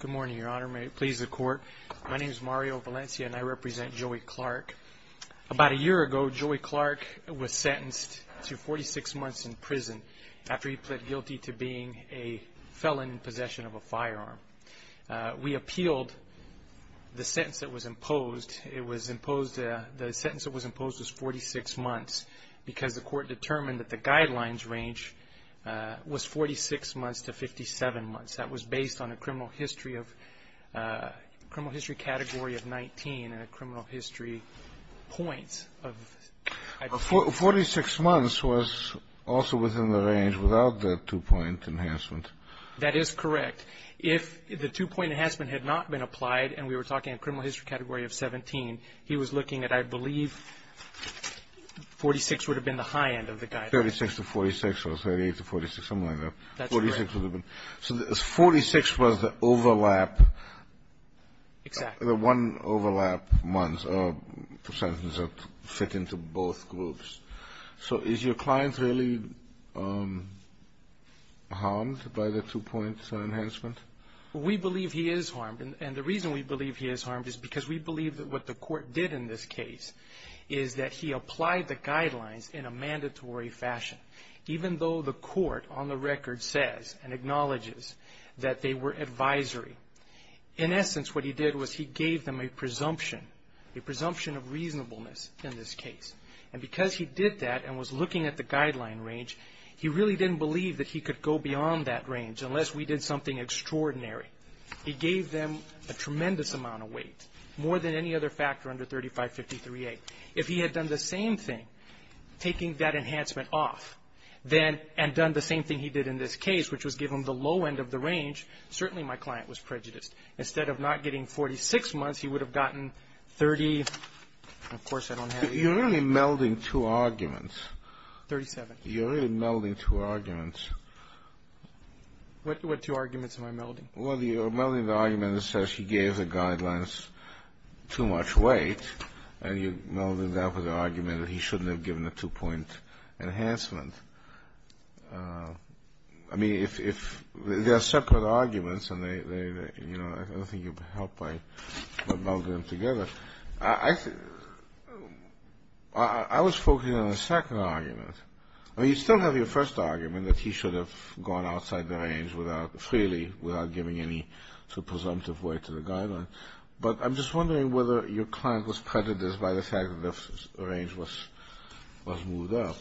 Good morning, Your Honor. May it please the Court. My name is Mario Valencia and I represent Joey Clark. About a year ago, Joey Clark was sentenced to 46 months in prison after he pled guilty to being a felon in possession of a firearm. We appealed the sentence that was imposed. The sentence that was imposed was 46 months because the Court determined that the guidelines range was 46 months to 57 months. That was based on a criminal history category of 19 and a criminal history points of 46 months was also within the range without the two-point enhancement. That is correct. If the two-point enhancement had not been applied and we were talking a criminal history category of 17, he was looking at I believe 46 would have been the high end of the guidelines. 36 to 46 or 38 to 46, something like that. That's correct. 46 would have been. So 46 was the overlap. Exactly. The one-overlap months or sentences that fit into both groups. So is your client really harmed by the two-point enhancement? We believe he is harmed. And the reason we believe he is harmed is because we believe that what the Court did in this case is that he applied the guidelines in a mandatory fashion. Even though the Court on the record says and acknowledges that they were advisory, in essence what he did was he gave them a presumption, a presumption of reasonableness in this case. And because he did that and was looking at the guideline range, he really didn't believe that he could go beyond that range unless we did something extraordinary. He gave them a tremendous amount of weight, more than any other factor under 3553A. If he had done the same thing, taking that enhancement off, then and done the same thing he did in this case, which was give him the low end of the range, certainly my client was prejudiced. Instead of not getting 46 months, he would have gotten 30. Of course, I don't have it here. You're really melding two arguments. What two arguments am I melding? Well, you're melding the argument that says he gave the guidelines too much weight, and you're melding that with the argument that he shouldn't have given a two-point enhancement. I mean, if there are separate arguments and they, you know, I don't think you'd help by melding them together. I was focusing on the second argument. I mean, you still have your first argument, that he should have gone outside the range freely without giving any presumptive weight to the guidelines. But I'm just wondering whether your client was prejudiced by the fact that the range was moved up,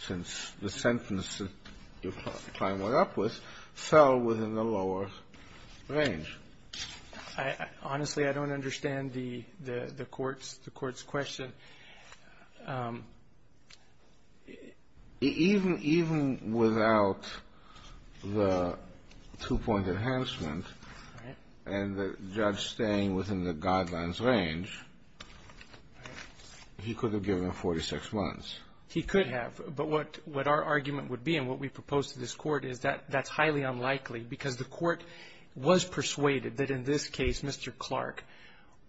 since the sentence your client went up with fell within the lower range. Honestly, I don't understand the Court's question. Even without the two-point enhancement and the judge staying within the guidelines range, he could have given him 46 months. He could have. But what our argument would be and what we propose to this Court is that that's highly unlikely, because the Court was persuaded that in this case, Mr. Clark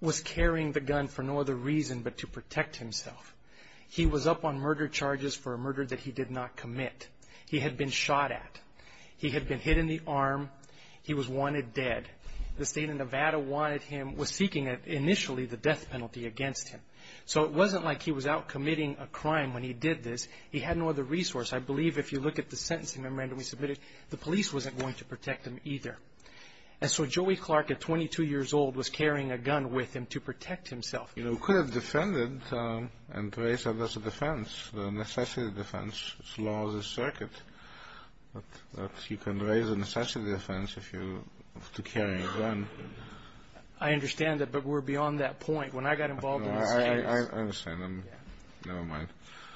was carrying the gun for no other reason but to protect himself. He was up on murder charges for a murder that he did not commit. He had been shot at. He had been hit in the arm. He was wanted dead. The state of Nevada wanted him, was seeking initially the death penalty against him. So it wasn't like he was out committing a crime when he did this. He had no other resource. I believe if you look at the sentencing memorandum we submitted, the police wasn't going to protect him either. And so Joey Clark, at 22 years old, was carrying a gun with him to protect himself. You know, he could have defended and raised it as a defense, a necessity defense, as long as it's circuit. But you can raise a necessity defense if you have to carry a gun. I understand that, but we're beyond that point. When I got involved in this case... I understand. Never mind.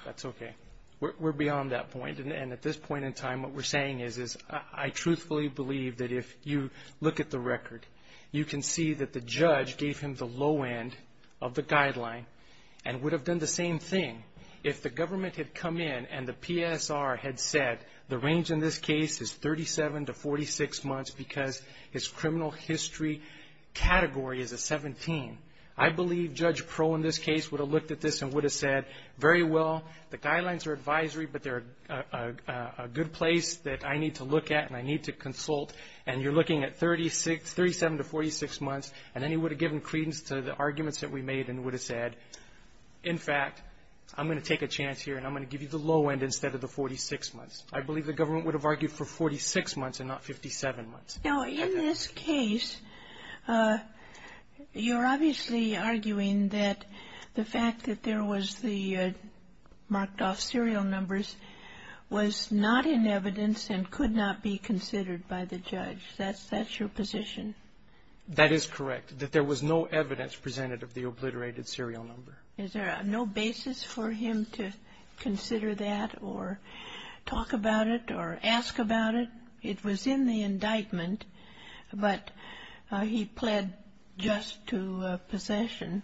That's okay. We're beyond that point. And at this point in time, what we're saying is I truthfully believe that if you look at the record, you can see that the judge gave him the low end of the guideline and would have done the same thing if the government had come in and the PSR had said the range in this case is 37 to 46 months because his criminal history category is a 17. I believe Judge Pearl, in this case, would have looked at this and would have said, very well, the guidelines are advisory, but they're a good place that I need to look at and I need to consult. And you're looking at 37 to 46 months. And then he would have given credence to the arguments that we made and would have said, in fact, I'm going to take a chance here and I'm going to give you the low end instead of the 46 months. I believe the government would have argued for 46 months and not 57 months. Now, in this case, you're obviously arguing that the fact that there was the marked-off serial numbers was not in evidence and could not be considered by the judge. That's your position. That is correct, that there was no evidence presented of the obliterated serial number. Is there no basis for him to consider that or talk about it or ask about it? It was in the indictment, but he pled just to possession.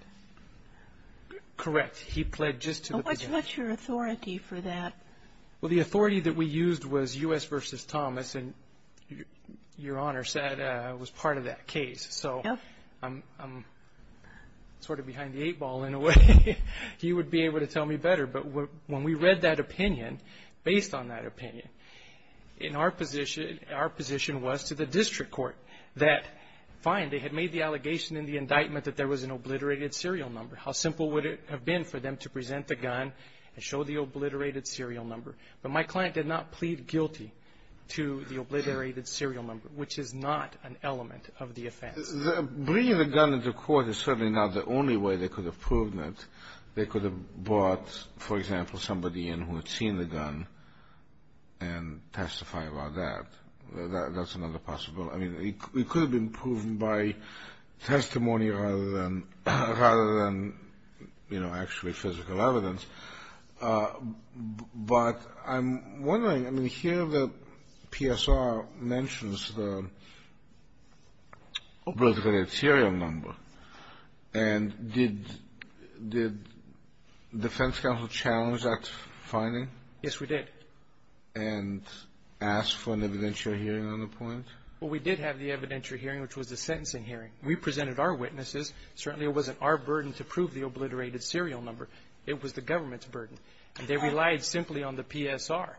Correct. He pled just to possession. What's your authority for that? Well, the authority that we used was U.S. v. Thomas, and Your Honor said I was part of that case. So I'm sort of behind the eight ball in a way. He would be able to tell me better. But when we read that opinion, based on that opinion, in our position, our position was to the district court that, fine, they had made the allegation in the indictment that there was an obliterated serial number. How simple would it have been for them to present the gun and show the obliterated serial number? But my client did not plead guilty to the obliterated serial number, which is not an element of the offense. Bringing the gun into court is certainly not the only way they could have proven it. They could have brought, for example, somebody in who had seen the gun and testify about that. That's another possible. I mean, it could have been proven by testimony rather than, you know, actually physical evidence. But I'm wondering, I mean, here the PSR mentions the obliterated serial number. And did defense counsel challenge that finding? Yes, we did. And ask for an evidentiary hearing on the point? Well, we did have the evidentiary hearing, which was the sentencing hearing. We presented our witnesses. Certainly it wasn't our burden to prove the obliterated serial number. It was the government's burden. They relied simply on the PSR.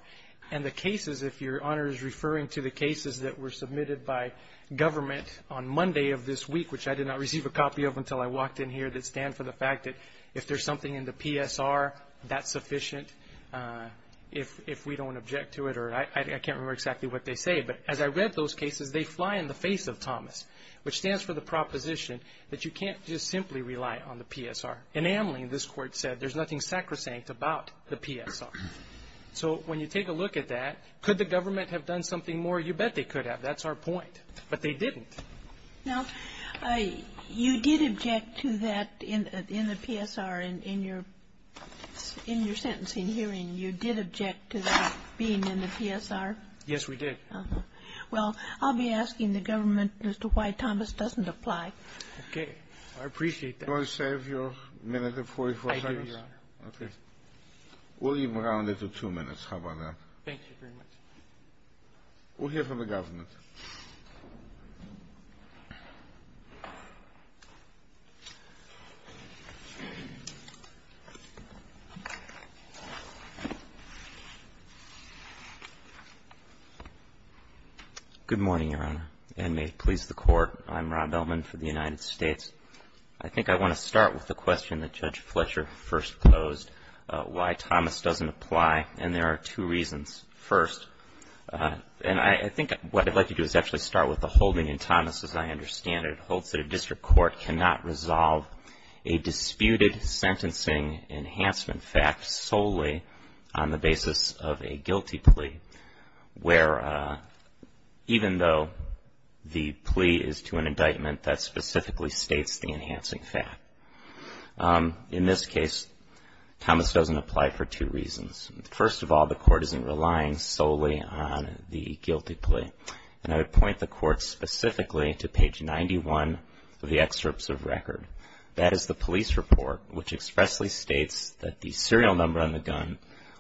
And the cases, if Your Honor is referring to the cases that were submitted by government on Monday of this week, which I did not receive a copy of until I walked in here, that stand for the fact that if there's something in the PSR that's sufficient, if we don't object to it, or I can't remember exactly what they say. But as I read those cases, they fly in the face of Thomas, which stands for the proposition that you can't just simply rely on the PSR. In Amling, this Court said there's nothing sacrosanct about the PSR. So when you take a look at that, could the government have done something more? You bet they could have. That's our point. But they didn't. Now, you did object to that in the PSR in your sentencing hearing. You did object to that being in the PSR? Yes, we did. Well, I'll be asking the government as to why Thomas doesn't apply. Okay. I appreciate that. Do you want to save your minute and 44 seconds? I do, Your Honor. Okay. We'll even round it to two minutes. How about that? Thank you very much. We'll hear from the government. Good morning, Your Honor, and may it please the Court. I'm Rob Bellman for the United States. I think I want to start with the question that Judge Fletcher first posed, why Thomas doesn't apply. And there are two reasons. First, and I think what I'd like to do is actually start with the holding in Thomas, as I understand it. It holds that a district court cannot resolve a disputed sentencing enhancement fact solely on the basis of a guilty plea, where even though the plea is to an indictment that specifically states the enhancing fact. In this case, Thomas doesn't apply for two reasons. First of all, the Court isn't relying solely on the guilty plea. And I would point the Court specifically to page 91 of the excerpts of record. That is the police report, which expressly states that the serial number on the gun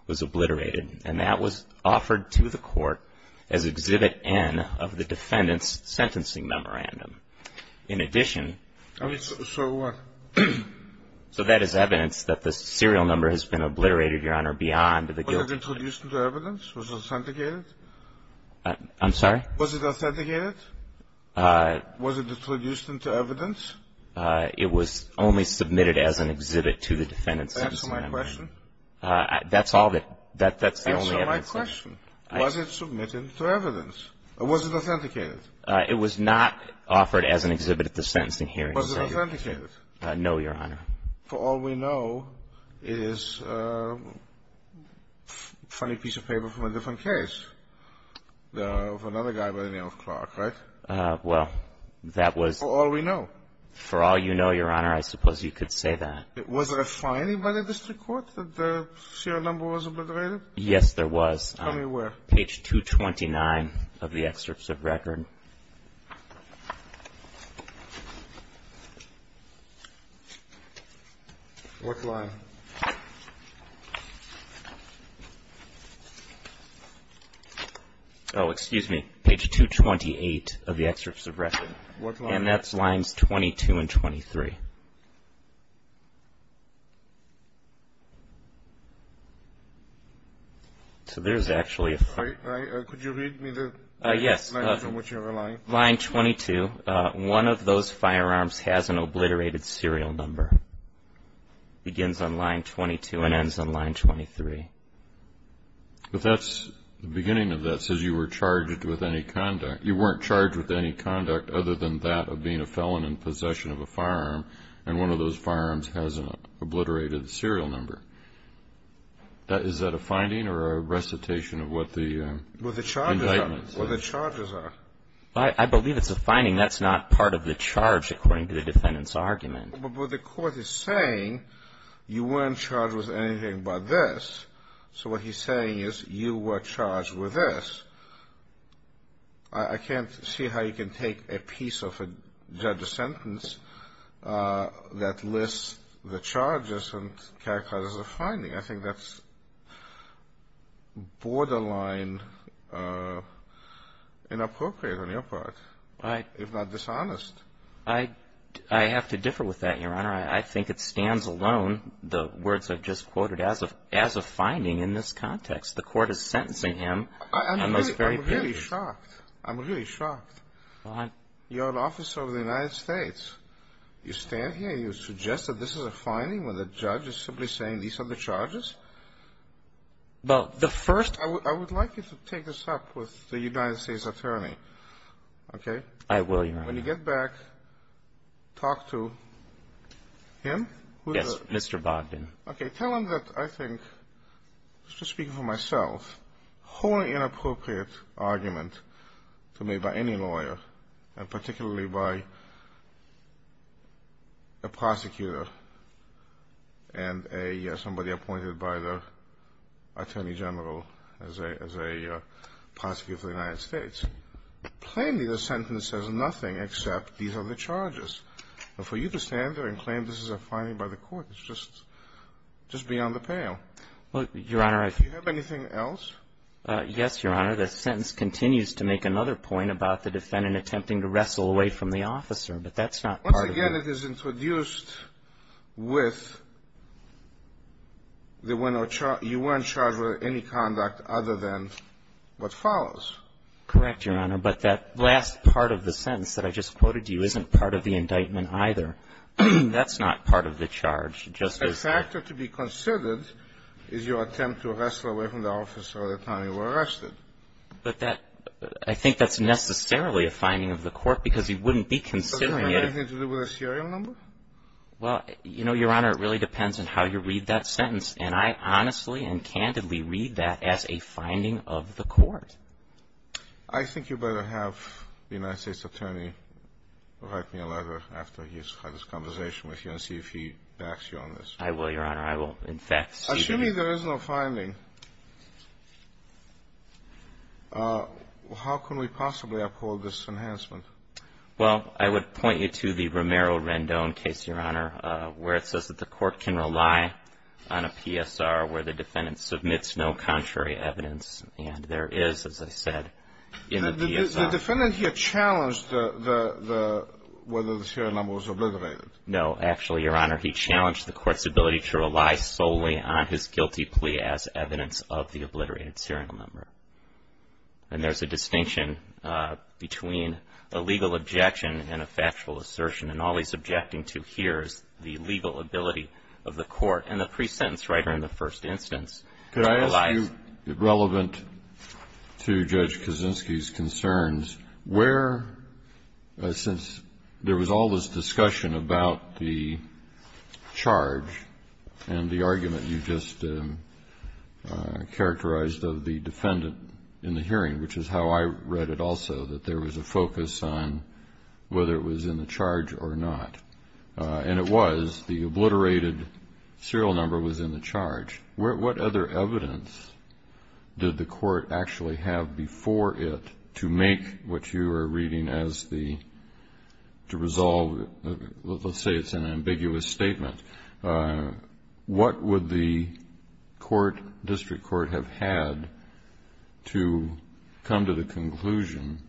was obliterated, and that was offered to the Court as Exhibit N of the defendant's sentencing memorandum. In addition... So what? So that is evidence that the serial number has been obliterated, Your Honor, beyond the guilty plea. Was it introduced into evidence? Was it authenticated? I'm sorry? Was it authenticated? Was it introduced into evidence? It was only submitted as an exhibit to the defendant's sentencing memorandum. Answer my question. That's all that the only evidence in it. Answer my question. Was it submitted to evidence, or was it authenticated? It was not offered as an exhibit at the sentencing hearing. Was it authenticated? No, Your Honor. For all we know, it is a funny piece of paper from a different case, of another guy by the name of Clark, right? Well, that was... For all we know. For all you know, Your Honor, I suppose you could say that. Was there a finding by the district court that the serial number was obliterated? Yes, there was. Tell me where. Page 229 of the excerpts of record. What line? Oh, excuse me. Page 228 of the excerpts of record. What line? And that's lines 22 and 23. So there's actually a... Could you read me the... Yes. Line 22. One of those firearms has an obliterated serial number. Begins on line 22 and ends on line 23. But that's... The beginning of that says you were charged with any conduct. Other than that of being a felon in possession of a firearm. And one of those firearms has an obliterated serial number. Is that a finding or a recitation of what the indictment says? Well, the charges are. Well, the charges are. I believe it's a finding. That's not part of the charge, according to the defendant's argument. But the court is saying you weren't charged with anything but this. So what he's saying is you were charged with this. I can't see how you can take a piece of a judge's sentence that lists the charges and characterize it as a finding. I think that's borderline inappropriate on your part, if not dishonest. I have to differ with that, Your Honor. I think it stands alone, the words I've just quoted, as a finding in this context. The court is sentencing him on those very pages. I'm really shocked. I'm really shocked. You're an officer of the United States. You stand here and you suggest that this is a finding when the judge is simply saying these are the charges? Well, the first... I would like you to take this up with the United States attorney, okay? I will, Your Honor. When you get back, talk to him? Yes, Mr. Bogdan. Okay, tell him that I think, just speaking for myself, a wholly inappropriate argument to make by any lawyer, and particularly by a prosecutor and somebody appointed by the attorney general as a prosecutor for the United States. Plainly the sentence says nothing except these are the charges. And for you to stand there and claim this is a finding by the court is just beyond the pale. Your Honor, I... Do you have anything else? Yes, Your Honor. The sentence continues to make another point about the defendant attempting to wrestle away from the officer, but that's not part of the... Once again, it is introduced with you were in charge of any conduct other than what follows. Correct, Your Honor. But that last part of the sentence that I just quoted to you isn't part of the indictment either. That's not part of the charge. A factor to be considered is your attempt to wrestle away from the officer at the time you were arrested. But that... I think that's necessarily a finding of the court, because he wouldn't be considering it... Does it have anything to do with a serial number? Well, you know, Your Honor, it really depends on how you read that sentence. And I honestly and candidly read that as a finding of the court. I think you better have the United States Attorney write me a letter after he's had this conversation with you and see if he backs you on this. I will, Your Honor. I will, in fact, see to it. Assuming there is no finding, how can we possibly uphold this enhancement? Well, I would point you to the Romero-Rendon case, Your Honor, where it says that the court can rely on a PSR where the defendant submits no contrary evidence and there is, as I said, in the PSR... The defendant here challenged whether the serial number was obliterated. No. Actually, Your Honor, he challenged the court's ability to rely solely on his guilty plea as evidence of the obliterated serial number. And there's a distinction between a legal objection and a factual assertion. And all he's objecting to here is the legal ability of the court and the pre-sentence writer in the first instance... Could I ask you, relevant to Judge Kaczynski's concerns, where, since there was all this discussion about the charge and the argument you just characterized of the defendant in the hearing, which is how I read it also, that there was a focus on whether it was in the charge or not. And it was. The obliterated serial number was in the charge. What other evidence did the court actually have before it to make what you are reading as the... to resolve... Let's say it's an ambiguous statement. What would the court, district court, have had to come to the conclusion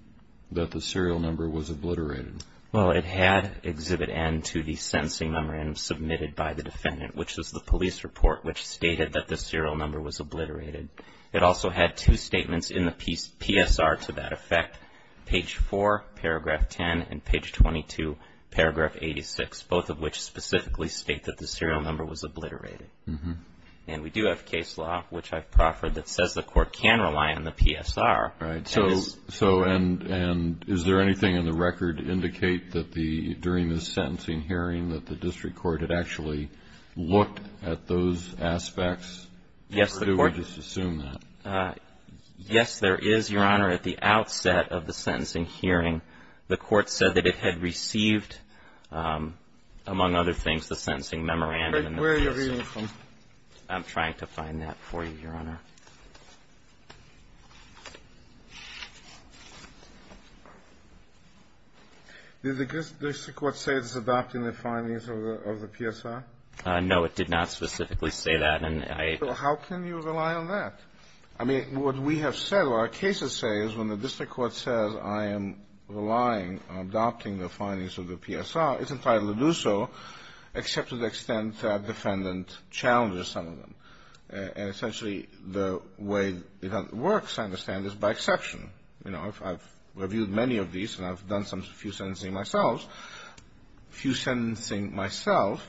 that the serial number was obliterated? Well, it had Exhibit N to the sentencing number and submitted by the defendant, which is the police report, which stated that the serial number was obliterated. It also had two statements in the PSR to that effect, page 4, paragraph 10, and page 22, paragraph 86, both of which specifically state that the serial number was obliterated. And we do have case law, which I've proffered, that says the court can rely on the PSR. Right. So, and is there anything in the record to indicate that the, during the sentencing hearing, that the district court had actually looked at those aspects? Yes, the court... Or do we just assume that? Yes, there is, Your Honor. At the outset of the sentencing hearing, the court said that it had received, among other things, the sentencing memorandum and the PSR. Where are you reading from? I'm trying to find that for you, Your Honor. Did the district court say it's adopting the findings of the PSR? No, it did not specifically say that. And I... So how can you rely on that? I mean, what we have said, what our cases say is when the district court says, I am relying on adopting the findings of the PSR, it's entitled to do so, except to the extent the defendant challenges some of them. And essentially, the way it works, I understand, is by exception. You know, I've reviewed many of these, and I've done a few sentencing myself. A few sentencing myself,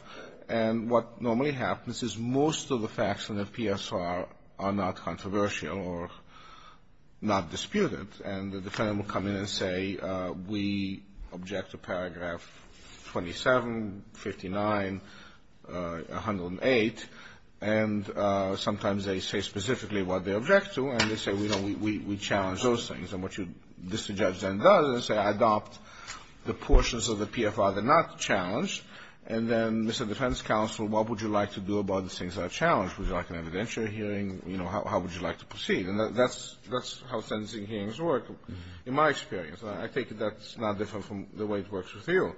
and what normally happens is most of the facts in the PSR are not controversial or not disputed. And the defendant will come in and say, we object to paragraph 27, 59, 108. And sometimes they say specifically what they object to, and they say, you know, we challenge those things. And what the district judge then does is say, I adopt the portions of the PSR that are not challenged, and then, Mr. Defense Counsel, what would you like to do about the things that are challenged? Would you like an evidentiary hearing? You know, how would you like to proceed? And that's how sentencing hearings work, in my experience. I take it that's not different from the way it works with you.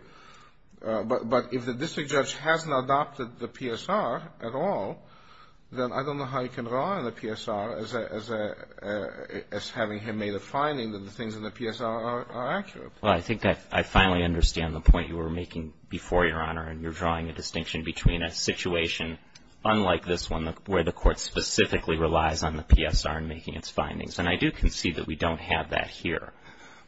But if the district judge hasn't adopted the PSR at all, then I don't know how he can rely on the PSR as having him made a finding that the things in the PSR are accurate. Well, I think I finally understand the point you were making before, Your Honor, and you're drawing a distinction between a situation unlike this one where the court specifically relies on the PSR in making its findings. And I do concede that we don't have that here.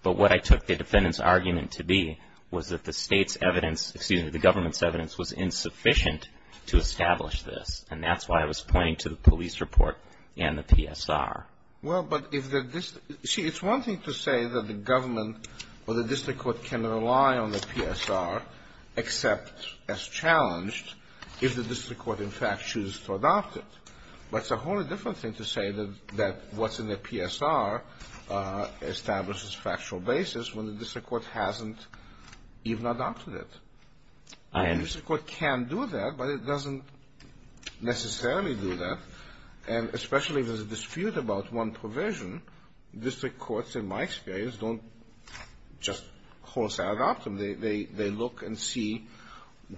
But what I took the defendant's argument to be was that the State's evidence — excuse me, the government's evidence was insufficient to establish this. And that's why I was pointing to the police report and the PSR. Well, but if the district — see, it's one thing to say that the government or the district court can rely on the PSR, except as challenged, if the district court, in fact, chooses to adopt it. But it's a wholly different thing to say that what's in the PSR establishes factual basis when the district court hasn't even adopted it. The district court can do that, but it doesn't necessarily do that. And especially if there's a dispute about one provision, district courts, in my experience, don't just wholesale adopt them. They look and see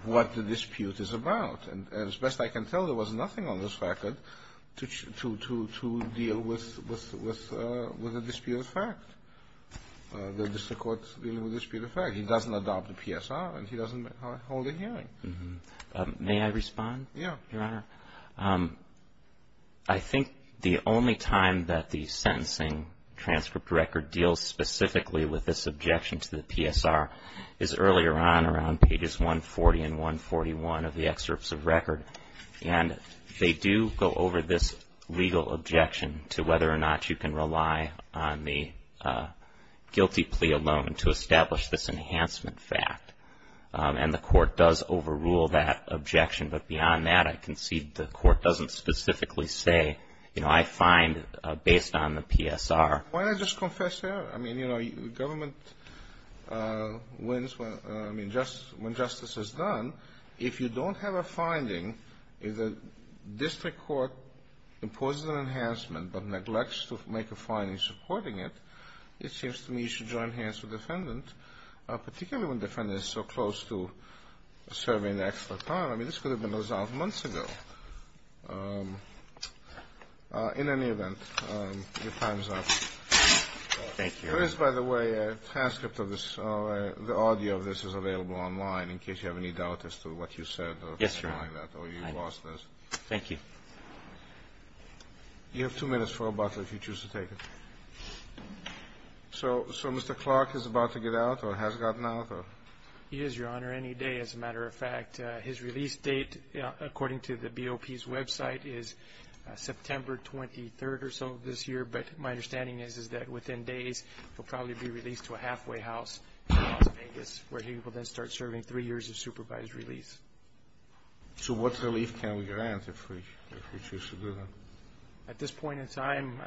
what the dispute is about. And as best I can tell, there was nothing on this record to deal with a dispute of fact. The district court's dealing with a dispute of fact. He doesn't adopt the PSR, and he doesn't hold a hearing. May I respond, Your Honor? Yeah. I think the only time that the sentencing transcript record deals specifically with this objection to the PSR is earlier on, around pages 140 and 141 of the excerpts of record. And they do go over this legal objection to whether or not you can rely on the guilty plea alone to establish this enhancement fact. And the court does overrule that objection. But beyond that, I concede the court doesn't specifically say, you know, I find based on the PSR. Why not just confess there? I mean, you know, government wins when justice is done. If you don't have a finding, if the district court imposes an enhancement but neglects to make a finding supporting it, it seems to me you should join hands with the defendant, particularly when the defendant is so close to serving an extra time. I mean, this could have been resolved months ago. In any event, your time is up. Thank you. There is, by the way, a transcript of this. The audio of this is available online in case you have any doubt as to what you said. Yes, Your Honor. Or you lost this. Thank you. You have two minutes for rebuttal if you choose to take it. So Mr. Clark is about to get out or has gotten out? He is, Your Honor, any day, as a matter of fact. His release date, according to the BOP's website, is September 23rd or so this year. But my understanding is that within days he will probably be released to a halfway house in Las Vegas where he will then start serving three years of supervised release. So what relief can we grant if we choose to do that? At this point in time,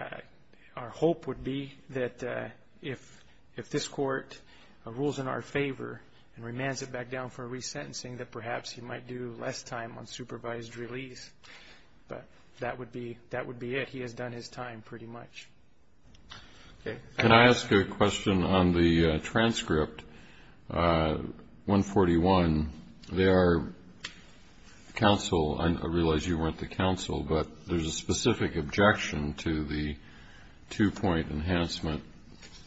our hope would be that if this court rules in our favor and remands it back down for resentencing, that perhaps he might do less time on supervised release. But that would be it. He has done his time pretty much. Can I ask a question on the transcript 141? There are counsel, I realize you weren't the counsel, but there's a specific objection to the two-point enhancement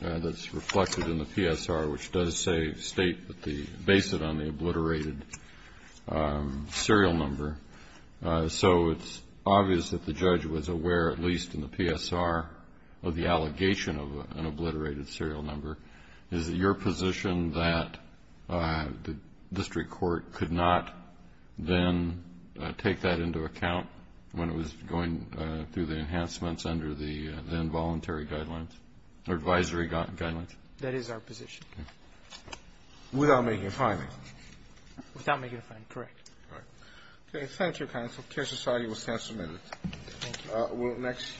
that's reflected in the PSR, which does state, base it on the obliterated serial number. So it's obvious that the judge was aware, at least in the PSR, of the allegation of an obliterated serial number. Is it your position that the district court could not then take that into account when it was going through the enhancements under the involuntary guidelines, or advisory guidelines? That is our position. Without making a finding? Without making a finding, correct. All right. Okay. Thank you, counsel. Care Society will stand submitted. Thank you.